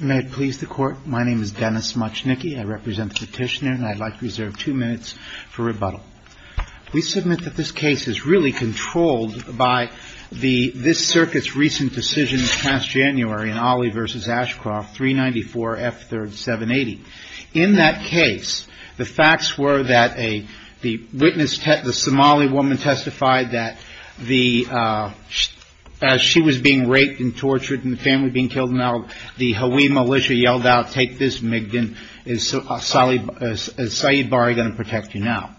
May it please the court, my name is Dennis Moczniki, I represent the petitioner and I'd like to reserve two minutes for rebuttal. We submit that this case is really controlled by this circuit's recent decisions past January in Ali v. Ashcroft 394 F3rd 780. In that case, the facts were that the witness, the Somali woman testified that as she was being raped and tortured and the family being killed, the Hawi militia yelled out, take this Migden, is Saeed Bari going to protect you now?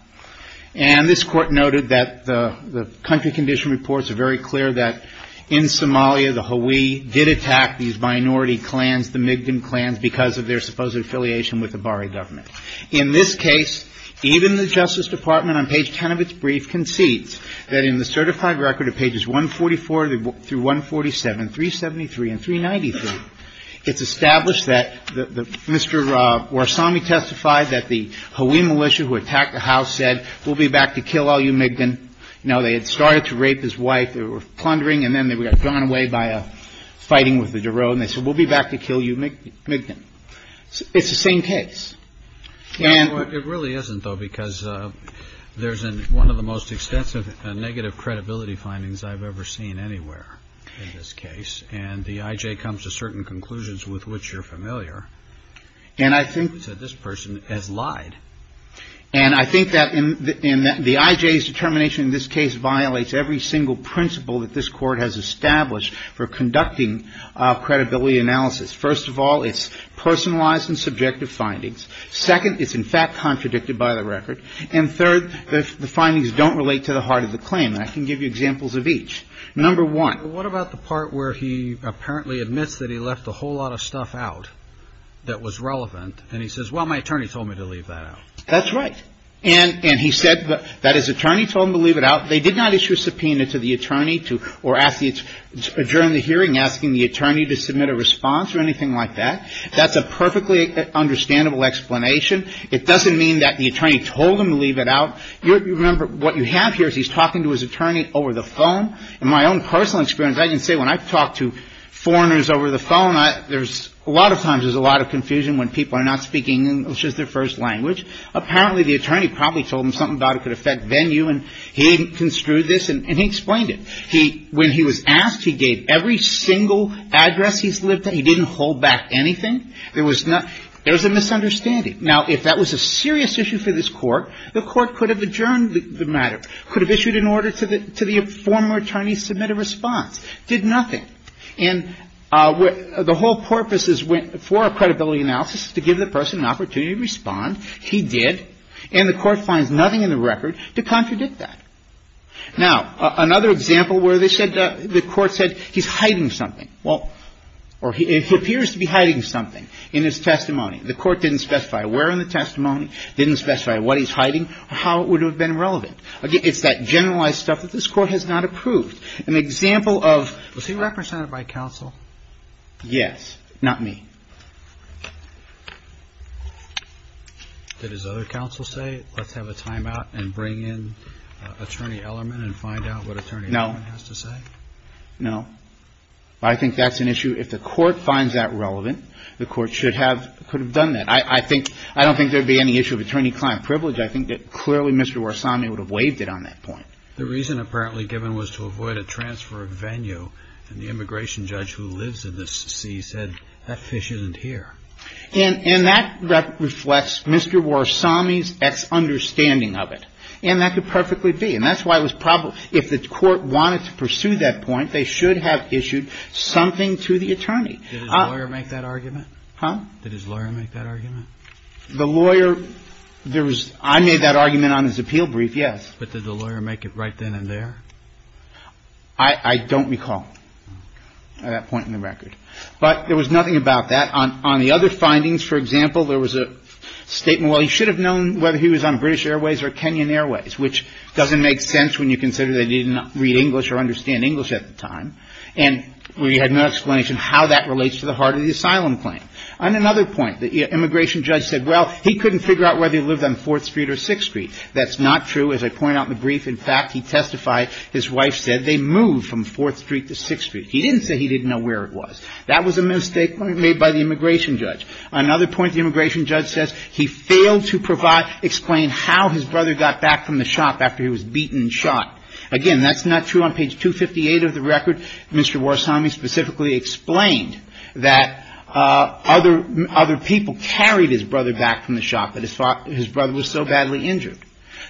And this court noted that the country condition reports are very clear that in Somalia, the Hawi did attack these minority clans, the Migden clans, because of their supposed affiliation with the Bari government. In this case, even the Justice Department on page 10 of its brief concedes that in the certified record of pages 144 through 147, 373 and 393, it's established that Mr. Warsameh testified that the Hawi militia who attacked the house said, we'll be back to kill all you Migden. Now, they had started to rape his wife, they were plundering, and then they were gone away by a fighting with the Daroe, and they said, we'll be back to kill you Migden. It's the same case. It really isn't, though, because there's one of the most extensive negative credibility findings I've ever seen anywhere in this case, and the IJ comes to certain conclusions with which you're familiar, and I think that this person has lied. And I think that the IJ's determination in this case violates every single principle that this court has established for conducting credibility analysis. First of all, it's personalized and subjective findings. Second, it's in fact contradicted by the record. And third, the findings don't relate to the heart of the claim. I can give you examples of each. Number one. What about the part where he apparently admits that he left a whole lot of stuff out that was relevant, and he says, well, my attorney told me to leave that out? That's right. And he said that his attorney told him to leave it out. They did not issue a subpoena to the attorney or during the hearing asking the attorney to submit a response or anything like that. That's a perfectly understandable explanation. It doesn't mean that the attorney told him to leave it out. Remember, what you have here is he's talking to his attorney over the phone. In my own personal experience, I can say when I've talked to foreigners over the phone, there's a lot of times there's a lot of confusion when people are not speaking English as their first language. Apparently, the attorney probably told him something about it could affect venue, and he didn't construe this, and he explained it. He – when he was asked, he gave every single address he's lived at. He didn't hold back anything. There was no – there was a misunderstanding. Now, if that was a serious issue for this Court, the Court could have adjourned the matter, could have issued an order to the former attorney to submit a response. Did nothing. And the whole purpose is for a credibility analysis is to give the person an opportunity to respond. He did. And the Court finds nothing in the record to contradict that. Now, another example where they said – the Court said he's hiding something. Well – or he appears to be hiding something in his testimony. The Court didn't specify where in the testimony, didn't specify what he's hiding, or how it would have been relevant. Again, it's that generalized stuff that this Court has not approved. An example of – Was he represented by counsel? Yes. Not me. Did his other counsel say, let's have a timeout and bring in Attorney Ellermann and find out what Attorney Ellermann has to say? No. No. I think that's an issue – if the Court finds that relevant, the Court should have – could have done that. I think – I don't think there would be any issue of attorney-client privilege. I think that clearly Mr. Warsami would have waived it on that point. The reason apparently given was to avoid a transfer of venue, and the immigration judge who lives in the sea said, that fish isn't here. And that reflects Mr. Warsami's misunderstanding of it. And that could perfectly be. And that's why it was – if the Court wanted to pursue that point, they should have issued something to the attorney. Did his lawyer make that argument? Huh? Did his lawyer make that argument? The lawyer – there was – I made that argument on his appeal brief, yes. But did the lawyer make it right then and there? I don't recall at that point in the record. But there was nothing about that. On the other findings, for example, there was a statement, well, he should have known whether he was on British Airways or Kenyan Airways, which doesn't make sense when you consider that he didn't read English or understand English at the time. And we had no explanation how that relates to the heart of the asylum claim. On another point, the immigration judge said, well, he couldn't figure out whether he lived on 4th Street or 6th Street. That's not true, as I point out in the brief. In fact, he testified his wife said they moved from 4th Street to 6th Street. He didn't say he didn't know where it was. That was a mistake made by the immigration judge. On another point, the immigration judge says he failed to provide – explain how his brother got back from the shop after he was beaten and shot. Again, that's not true. On page 258 of the record, Mr. Warsami specifically explained that other people carried his brother back from the shop, but his brother was so badly injured.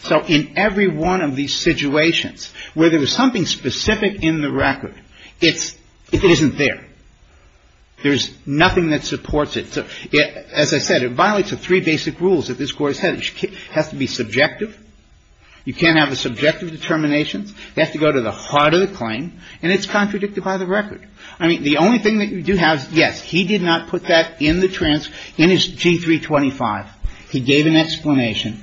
So in every one of these situations where there was something specific in the record, it's – it isn't there. There's nothing that supports it. As I said, it violates the three basic rules that this Court has had. It has to be subjective. You can't have a subjective determination. It has to go to the heart of the claim, and it's contradicted by the record. I mean, the only thing that you do have is, yes, he did not put that in the trans – in his G325. He gave an explanation,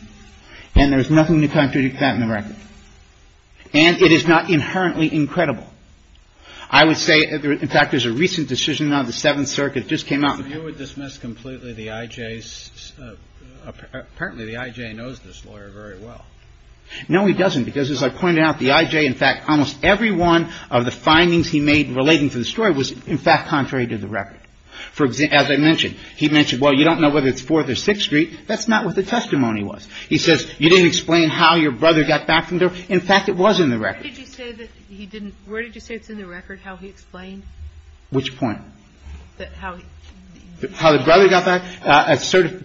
and there's nothing to contradict that in the record. And it is not inherently incredible. I would say – in fact, there's a recent decision out of the Seventh Circuit that just came out. So you would dismiss completely the I.J.'s – apparently the I.J. knows this lawyer very well. No, he doesn't, because as I pointed out, the I.J., in fact, almost every one of the findings he made relating to the story was, in fact, contrary to the record. For – as I mentioned, he mentioned, well, you don't know whether it's Fourth or Sixth Street. That's not what the testimony was. He says, you didn't explain how your brother got back from there. In fact, it was in the record. Where did you say that he didn't – where did you say it's in the record, how he explained? Which point? That how – How the brother got back?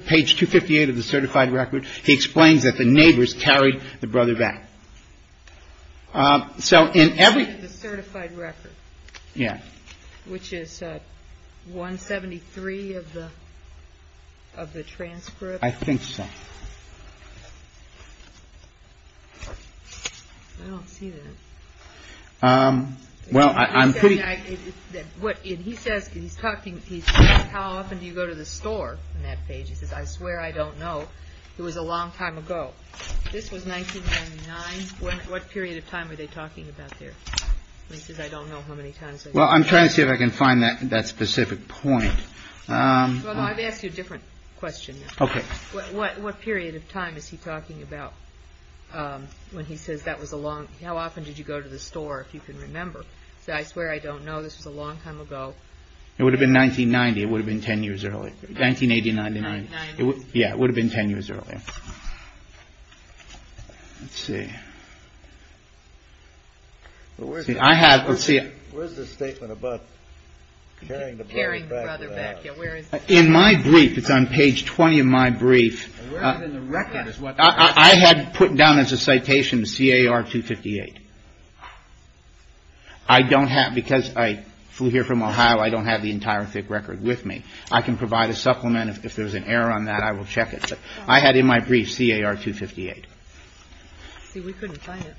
Page 258 of the certified record, he explains that the neighbors carried the brother back. So in every – The certified record. Yeah. Which is 173 of the transcript. I think so. I don't see that. Well, I'm pretty – What he says, he's talking – he says, how often do you go to the store on that page? He says, I swear I don't know. It was a long time ago. This was 1999. What period of time are they talking about there? He says, I don't know how many times. Well, I'm trying to see if I can find that specific point. Well, I'd ask you a different question. Okay. What period of time is he talking about when he says that was a long – how often did you go to the store, if you can remember? He says, I swear I don't know. This was a long time ago. It would have been 1990. It would have been 10 years earlier. 1980, 1999. 1990. Yeah, it would have been 10 years earlier. Let's see. I have – let's see. Where's the statement about carrying the brother back? In my brief, it's on page 20 in my brief. Where is it in the record? I had put down as a citation CAR-258. I don't have – because I flew here from Ohio, I don't have the entire thick record with me. I can provide a supplement. If there's an error on that, I will check it. I had in my brief CAR-258. See, we couldn't find it.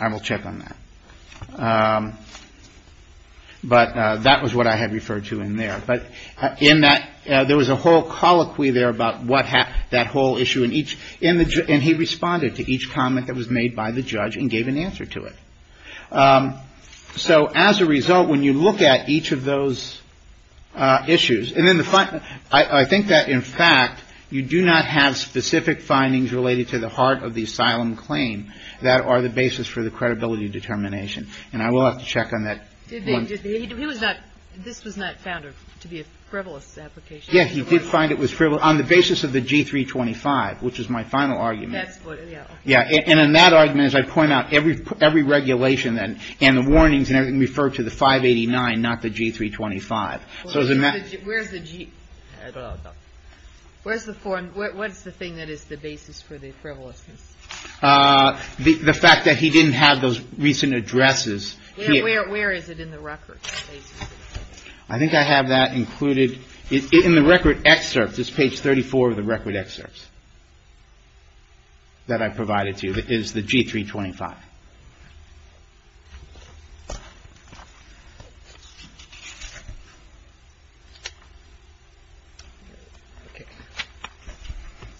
I will check on that. But that was what I had referred to in there. But in that, there was a whole colloquy there about what happened, that whole issue. And he responded to each comment that was made by the judge and gave an answer to it. So as a result, when you look at each of those issues, I think that, in fact, you do not have specific findings related to the heart of the asylum claim that are the basis for the credibility determination. And I will have to check on that. He was not – this was not found to be a frivolous application. Yes, he did find it was frivolous on the basis of the G-325, which is my final argument. And in that argument, as I point out, every regulation and the warnings and everything referred to the 589, not the G-325. Where's the G? Where's the form? What's the thing that is the basis for the frivolousness? The fact that he didn't have those recent addresses. Where is it in the record? I think I have that included in the record excerpts. It's page 34 of the record excerpts that I provided to you. And that is the G-325.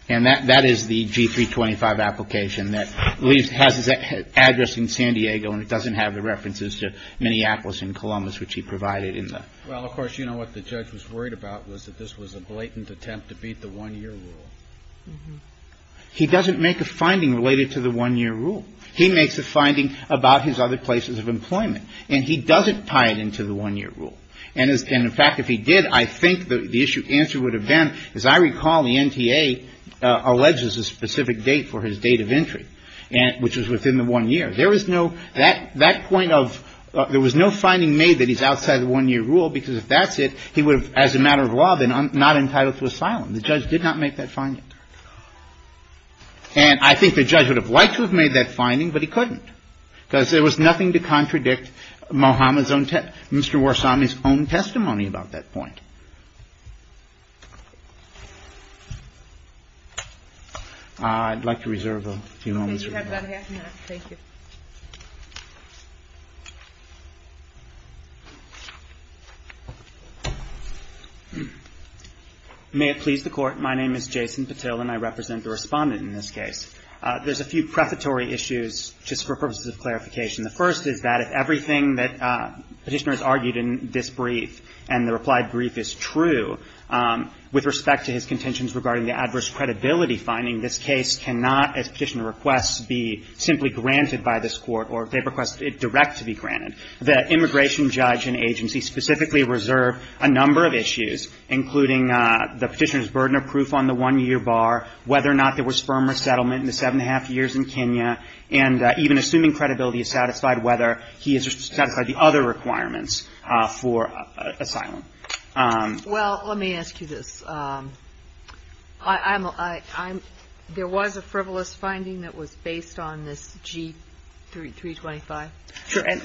And that is the G-325 application that leaves – has his address in San Diego and it doesn't have the references to Minneapolis and Columbus, which he provided in the – Well, of course, you know what the judge was worried about was that this was a blatant attempt to beat the one-year rule. He doesn't make a finding related to the one-year rule. He makes a finding about his other places of employment. And he doesn't tie it into the one-year rule. And, in fact, if he did, I think the issue – answer would have been, as I recall, the NTA alleges a specific date for his date of entry, which was within the one year. There was no – that point of – there was no finding made that he's outside the one-year rule, because if that's it, he would have, as a matter of law, been not entitled to asylum. The judge did not make that finding. And I think the judge would have liked to have made that finding, but he couldn't, because there was nothing to contradict Mohamed's own – Mr. Warsami's own testimony about that point. I'd like to reserve a few moments. You have about a half a minute. Thank you. Patil. May it please the Court. My name is Jason Patil, and I represent the Respondent in this case. There's a few prefatory issues, just for purposes of clarification. The first is that if everything that Petitioner has argued in this brief and the replied brief is true, with respect to his contentions regarding the adverse credibility finding, this case cannot, as Petitioner requests, be simply granted by this Court, or if they request it direct to be granted. The immigration judge and agency specifically reserve a number of issues, including the Petitioner's burden of proof on the one-year bar, whether or not there was firm resettlement in the seven and a half years in Kenya, and even assuming credibility is satisfied, whether he has satisfied the other requirements for asylum. Well, let me ask you this. There was a frivolous finding that was based on this G325. Sure. And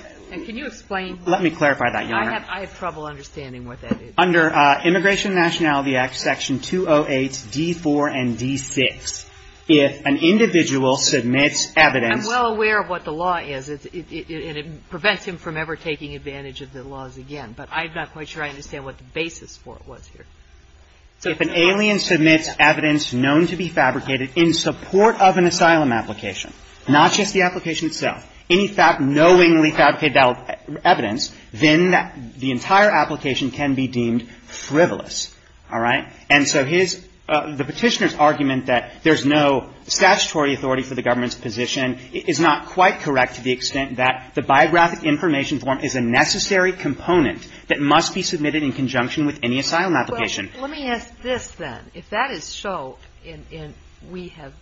can you explain? Let me clarify that, Your Honor. I have trouble understanding what that is. Under Immigration and Nationality Act, Section 208, D4 and D6, if an individual submits evidence. I'm well aware of what the law is, and it prevents him from ever taking advantage of the laws again, but I'm not quite sure I understand what the basis for it was here. So if an alien submits evidence known to be fabricated in support of an asylum application, not just the application itself, any fact knowingly fabricated evidence, then the entire application can be deemed frivolous. All right? And so his, the Petitioner's argument that there's no statutory authority for the government's position is not quite correct to the extent that the biographic information form is a necessary component that must be submitted in conjunction with any asylum application. Well, let me ask this then. If that is so, and we have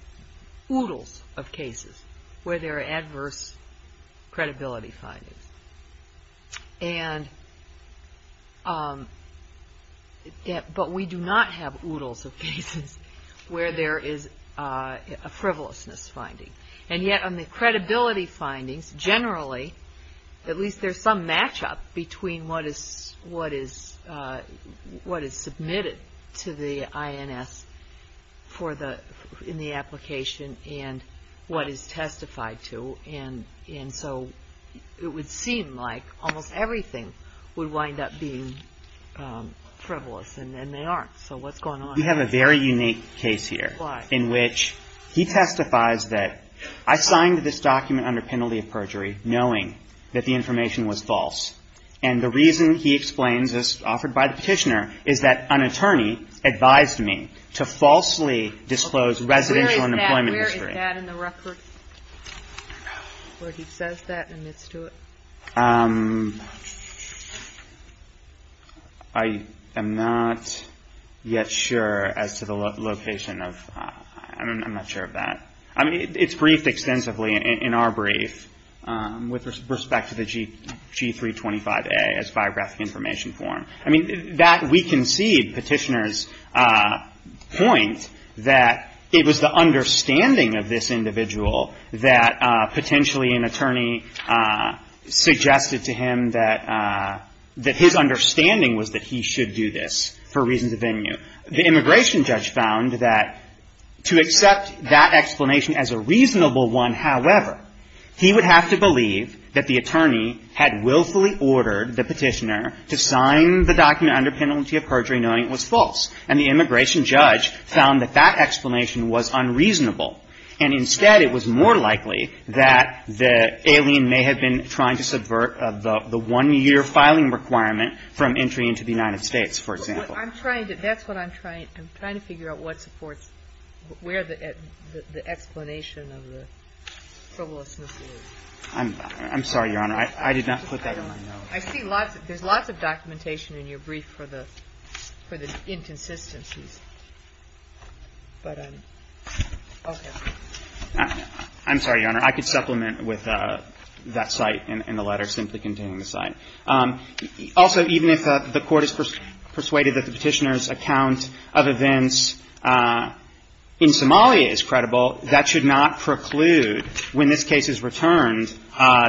oodles of cases where there are adverse credibility findings, and, but we do not have oodles of cases where there is a frivolousness finding, and yet on the credibility findings, generally, at least there's some matchup between what is, what is, what is submitted to the INS for the, in the application and what is testified to, and so it would seem like almost everything would wind up being frivolous, and they aren't. So what's going on? We have a very unique case here. Why? In which he testifies that I signed this document under penalty of perjury knowing that the information was false. And the reason he explains, as offered by the Petitioner, is that an attorney advised me to falsely disclose residential and employment history. Okay. Where is that? Where is that in the record? I don't know. Where he says that and admits to it? I am not yet sure as to the location of, I'm not sure of that. I mean, it's briefed extensively in our brief with respect to the G325A as biographic information form. I mean, that, we concede, Petitioner's point, that it was the understanding of this individual that potentially an attorney suggested to him that his understanding was that he should do this for reasons of venue. The immigration judge found that to accept that explanation as a reasonable one, however, he would have to believe that the attorney had willfully ordered the Petitioner to sign the document under penalty of perjury knowing it was false. And the immigration judge found that that explanation was unreasonable. And instead, it was more likely that the alien may have been trying to subvert the one-year filing requirement from entry into the United States, for example. I'm trying to, that's what I'm trying, I'm trying to figure out what supports where the explanation of the frivolousness is. I'm sorry, Your Honor. I did not put that in my notes. I see lots, there's lots of documentation in your brief for the, for the inconsistencies. But, okay. I'm sorry, Your Honor. I could supplement with that site in the letter simply containing the site. Also, even if the Court is persuaded that the Petitioner's account of events in Somalia is credible, that should not preclude when this case is returned,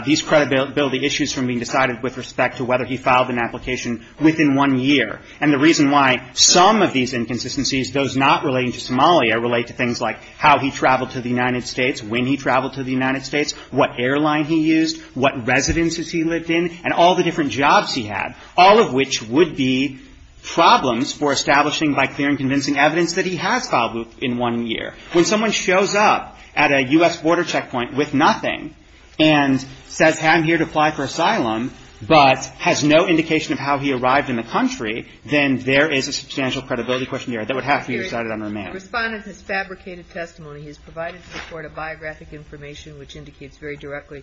these credibility issues from being decided with respect to whether he filed an application within one year. And the reason why some of these inconsistencies, those not relating to Somalia, relate to things like how he traveled to the United States, when he traveled to the United States, what airline he used, what residences he lived in, and all the different jobs he had, all of which would be problems for establishing by clear and convincing evidence that he has filed in one year. When someone shows up at a U.S. border checkpoint with nothing and says, I'm here to apply for asylum, but has no indication of how he arrived in the country, then there is a substantial credibility question here that would have to be decided on a remand. The Respondent has fabricated testimony. He has provided to the Court a biographic information which indicates very directly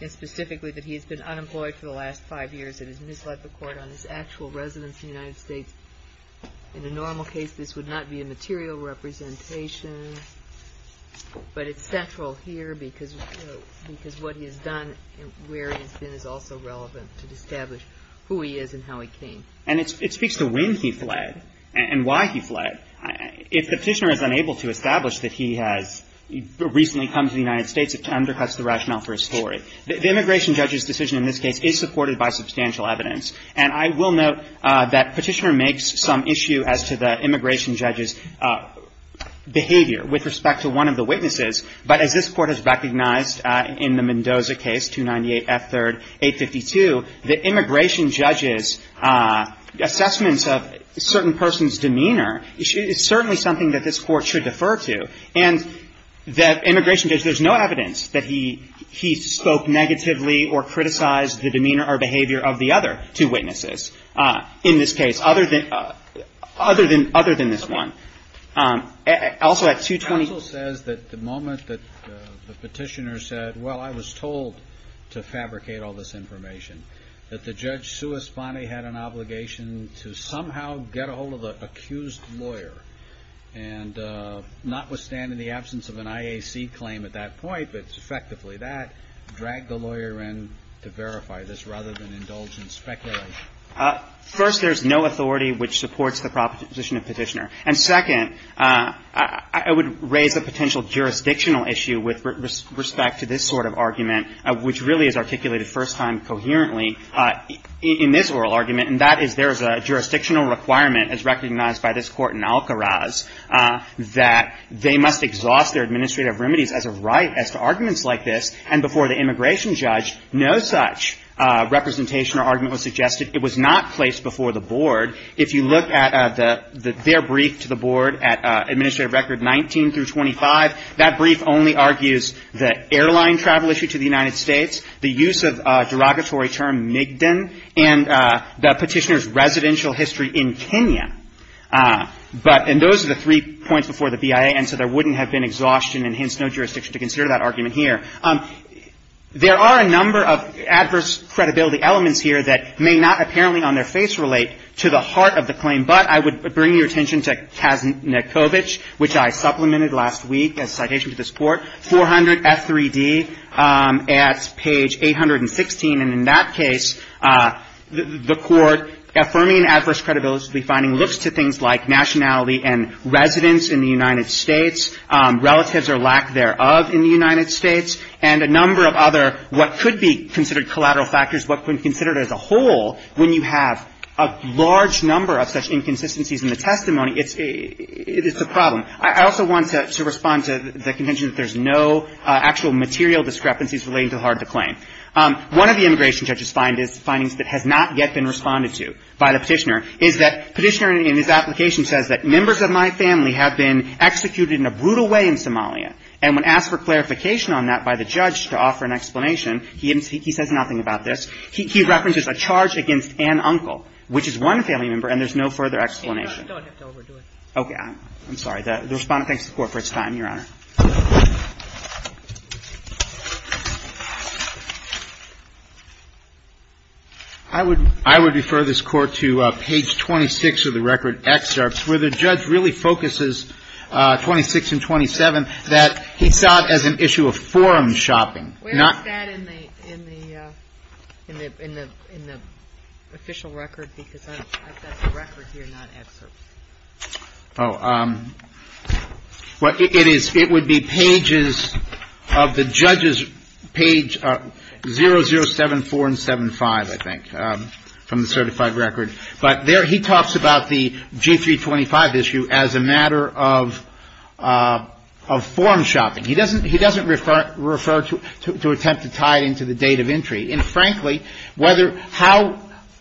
and specifically that he has been unemployed for the last five years and has misled the Court on his actual residence in the United States. In a normal case, this would not be a material representation. But it's central here because what he has done and where he has been is also relevant to establish who he is and how he came. And it speaks to when he fled and why he fled. If the Petitioner is unable to establish that he has recently come to the United States, it undercuts the rationale for his story. The immigration judge's decision in this case is supported by substantial evidence. And I will note that Petitioner makes some issue as to the immigration judge's behavior with respect to one of the witnesses. But as this Court has recognized in the Mendoza case, 298 F. 3rd, 852, the immigration judge's assessments of a certain person's demeanor is certainly something that this Court should defer to. And the immigration judge, there's no evidence that he spoke negatively or criticized the demeanor or behavior of the other two witnesses in this case, other than this one. Also, at 220- The counsel says that the moment that the Petitioner said, well, I was told to fabricate all this information, that the judge sua sponte had an obligation to somehow get a hold of the accused lawyer. And notwithstanding the absence of an IAC claim at that point, if it's effectively that, drag the lawyer in to verify this rather than indulge in speculation. First, there's no authority which supports the proposition of Petitioner. And, second, I would raise a potential jurisdictional issue with respect to this sort of argument, which really is articulated first time coherently in this oral argument, and that is there is a jurisdictional requirement as recognized by this Court in Alcaraz that they must exhaust their administrative remedies as a right as to arguments like this. And before the immigration judge, no such representation or argument was suggested. It was not placed before the Board. If you look at their brief to the Board at Administrative Record 19 through 25, that brief only argues the airline travel issue to the United States, the use of derogatory term Migden, and the Petitioner's residential history in Kenya. But those are the three points before the BIA, and so there wouldn't have been exhaustion and hence no jurisdiction to consider that argument here. There are a number of adverse credibility elements here that may not apparently on their face relate to the heart of the claim, but I would bring your attention to Kaznikowicz, which I supplemented last week as a citation to this Court, 400 F3D at page 816. And in that case, the Court affirming adverse credibility finding looks to things like nationality and residence in the United States, relatives or lack thereof in the United States, and a number of other what could be considered collateral factors, what could be considered as a whole when you have a large number of such inconsistencies in the testimony. It's a problem. I also want to respond to the contention that there's no actual material discrepancies relating to the heart of the claim. One of the immigration judges' findings that has not yet been responded to by the Petitioner is that Petitioner in his application says that members of my family have been executed in a brutal way in Somalia, and when asked for clarification on that by the judge to offer an explanation, he says nothing about this. He references a charge against an uncle, which is one family member, and there's no further explanation. Sotomayor, you don't have to overdo it. Okay. I'm sorry. The Respondent thanks the Court for its time, Your Honor. I would refer this Court to page 26 of the record, excerpts, where the judge really focuses, 26 and 27, that he saw it as an issue of forum shopping. Where is that in the official record? Because I've got the record here, not excerpts. Oh. It would be pages of the judge's page 0074 and 75, I think, from the certified record. But there he talks about the G325 issue as a matter of forum shopping. He doesn't refer to attempt to tie it into the date of entry. And frankly, whether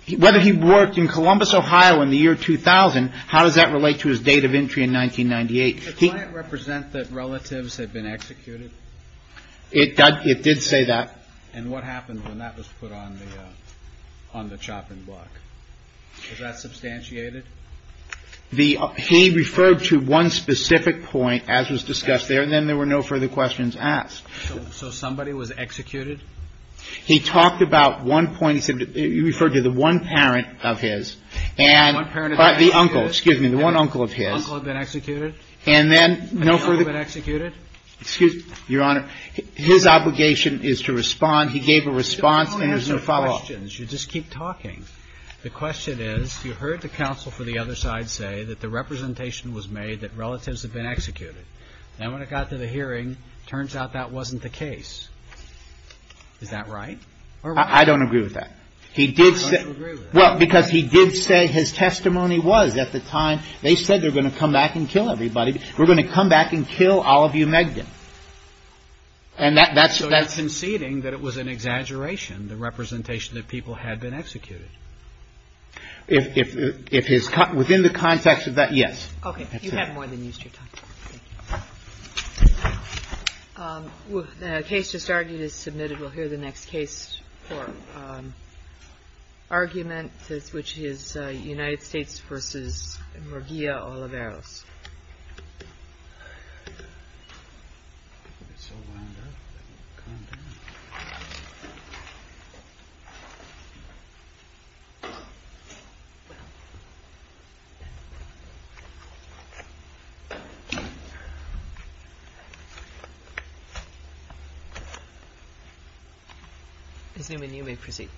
he worked in Columbus, Ohio in the year 2000, how does that relate to his date of entry in 1998? Does the client represent that relatives had been executed? It did say that. And what happened when that was put on the chopping block? Was that substantiated? He referred to one specific point, as was discussed there, and then there were no further questions asked. So somebody was executed? He talked about one point. He referred to the one parent of his. And the uncle, excuse me, the one uncle of his. The uncle had been executed? And then no further. The uncle had been executed? Excuse me, Your Honor. His obligation is to respond. He gave a response and there's no follow-up. You don't answer questions. You just keep talking. The question is, you heard the counsel for the other side say that the representation was made that relatives had been executed. And when it got to the hearing, it turns out that wasn't the case. Is that right? I don't agree with that. He did say – I don't agree with that. Well, because he did say his testimony was, at the time, they said they're going to come back and kill everybody. We're going to come back and kill all of you Megdon. And that's – So you're conceding that it was an exaggeration, the representation that people had been executed? If his – within the context of that, yes. Okay. You have more than used your time. Thank you. The case just argued is submitted. We'll hear the next case for argument, which is United States v. Murguía-Oliveros. Thank you very much.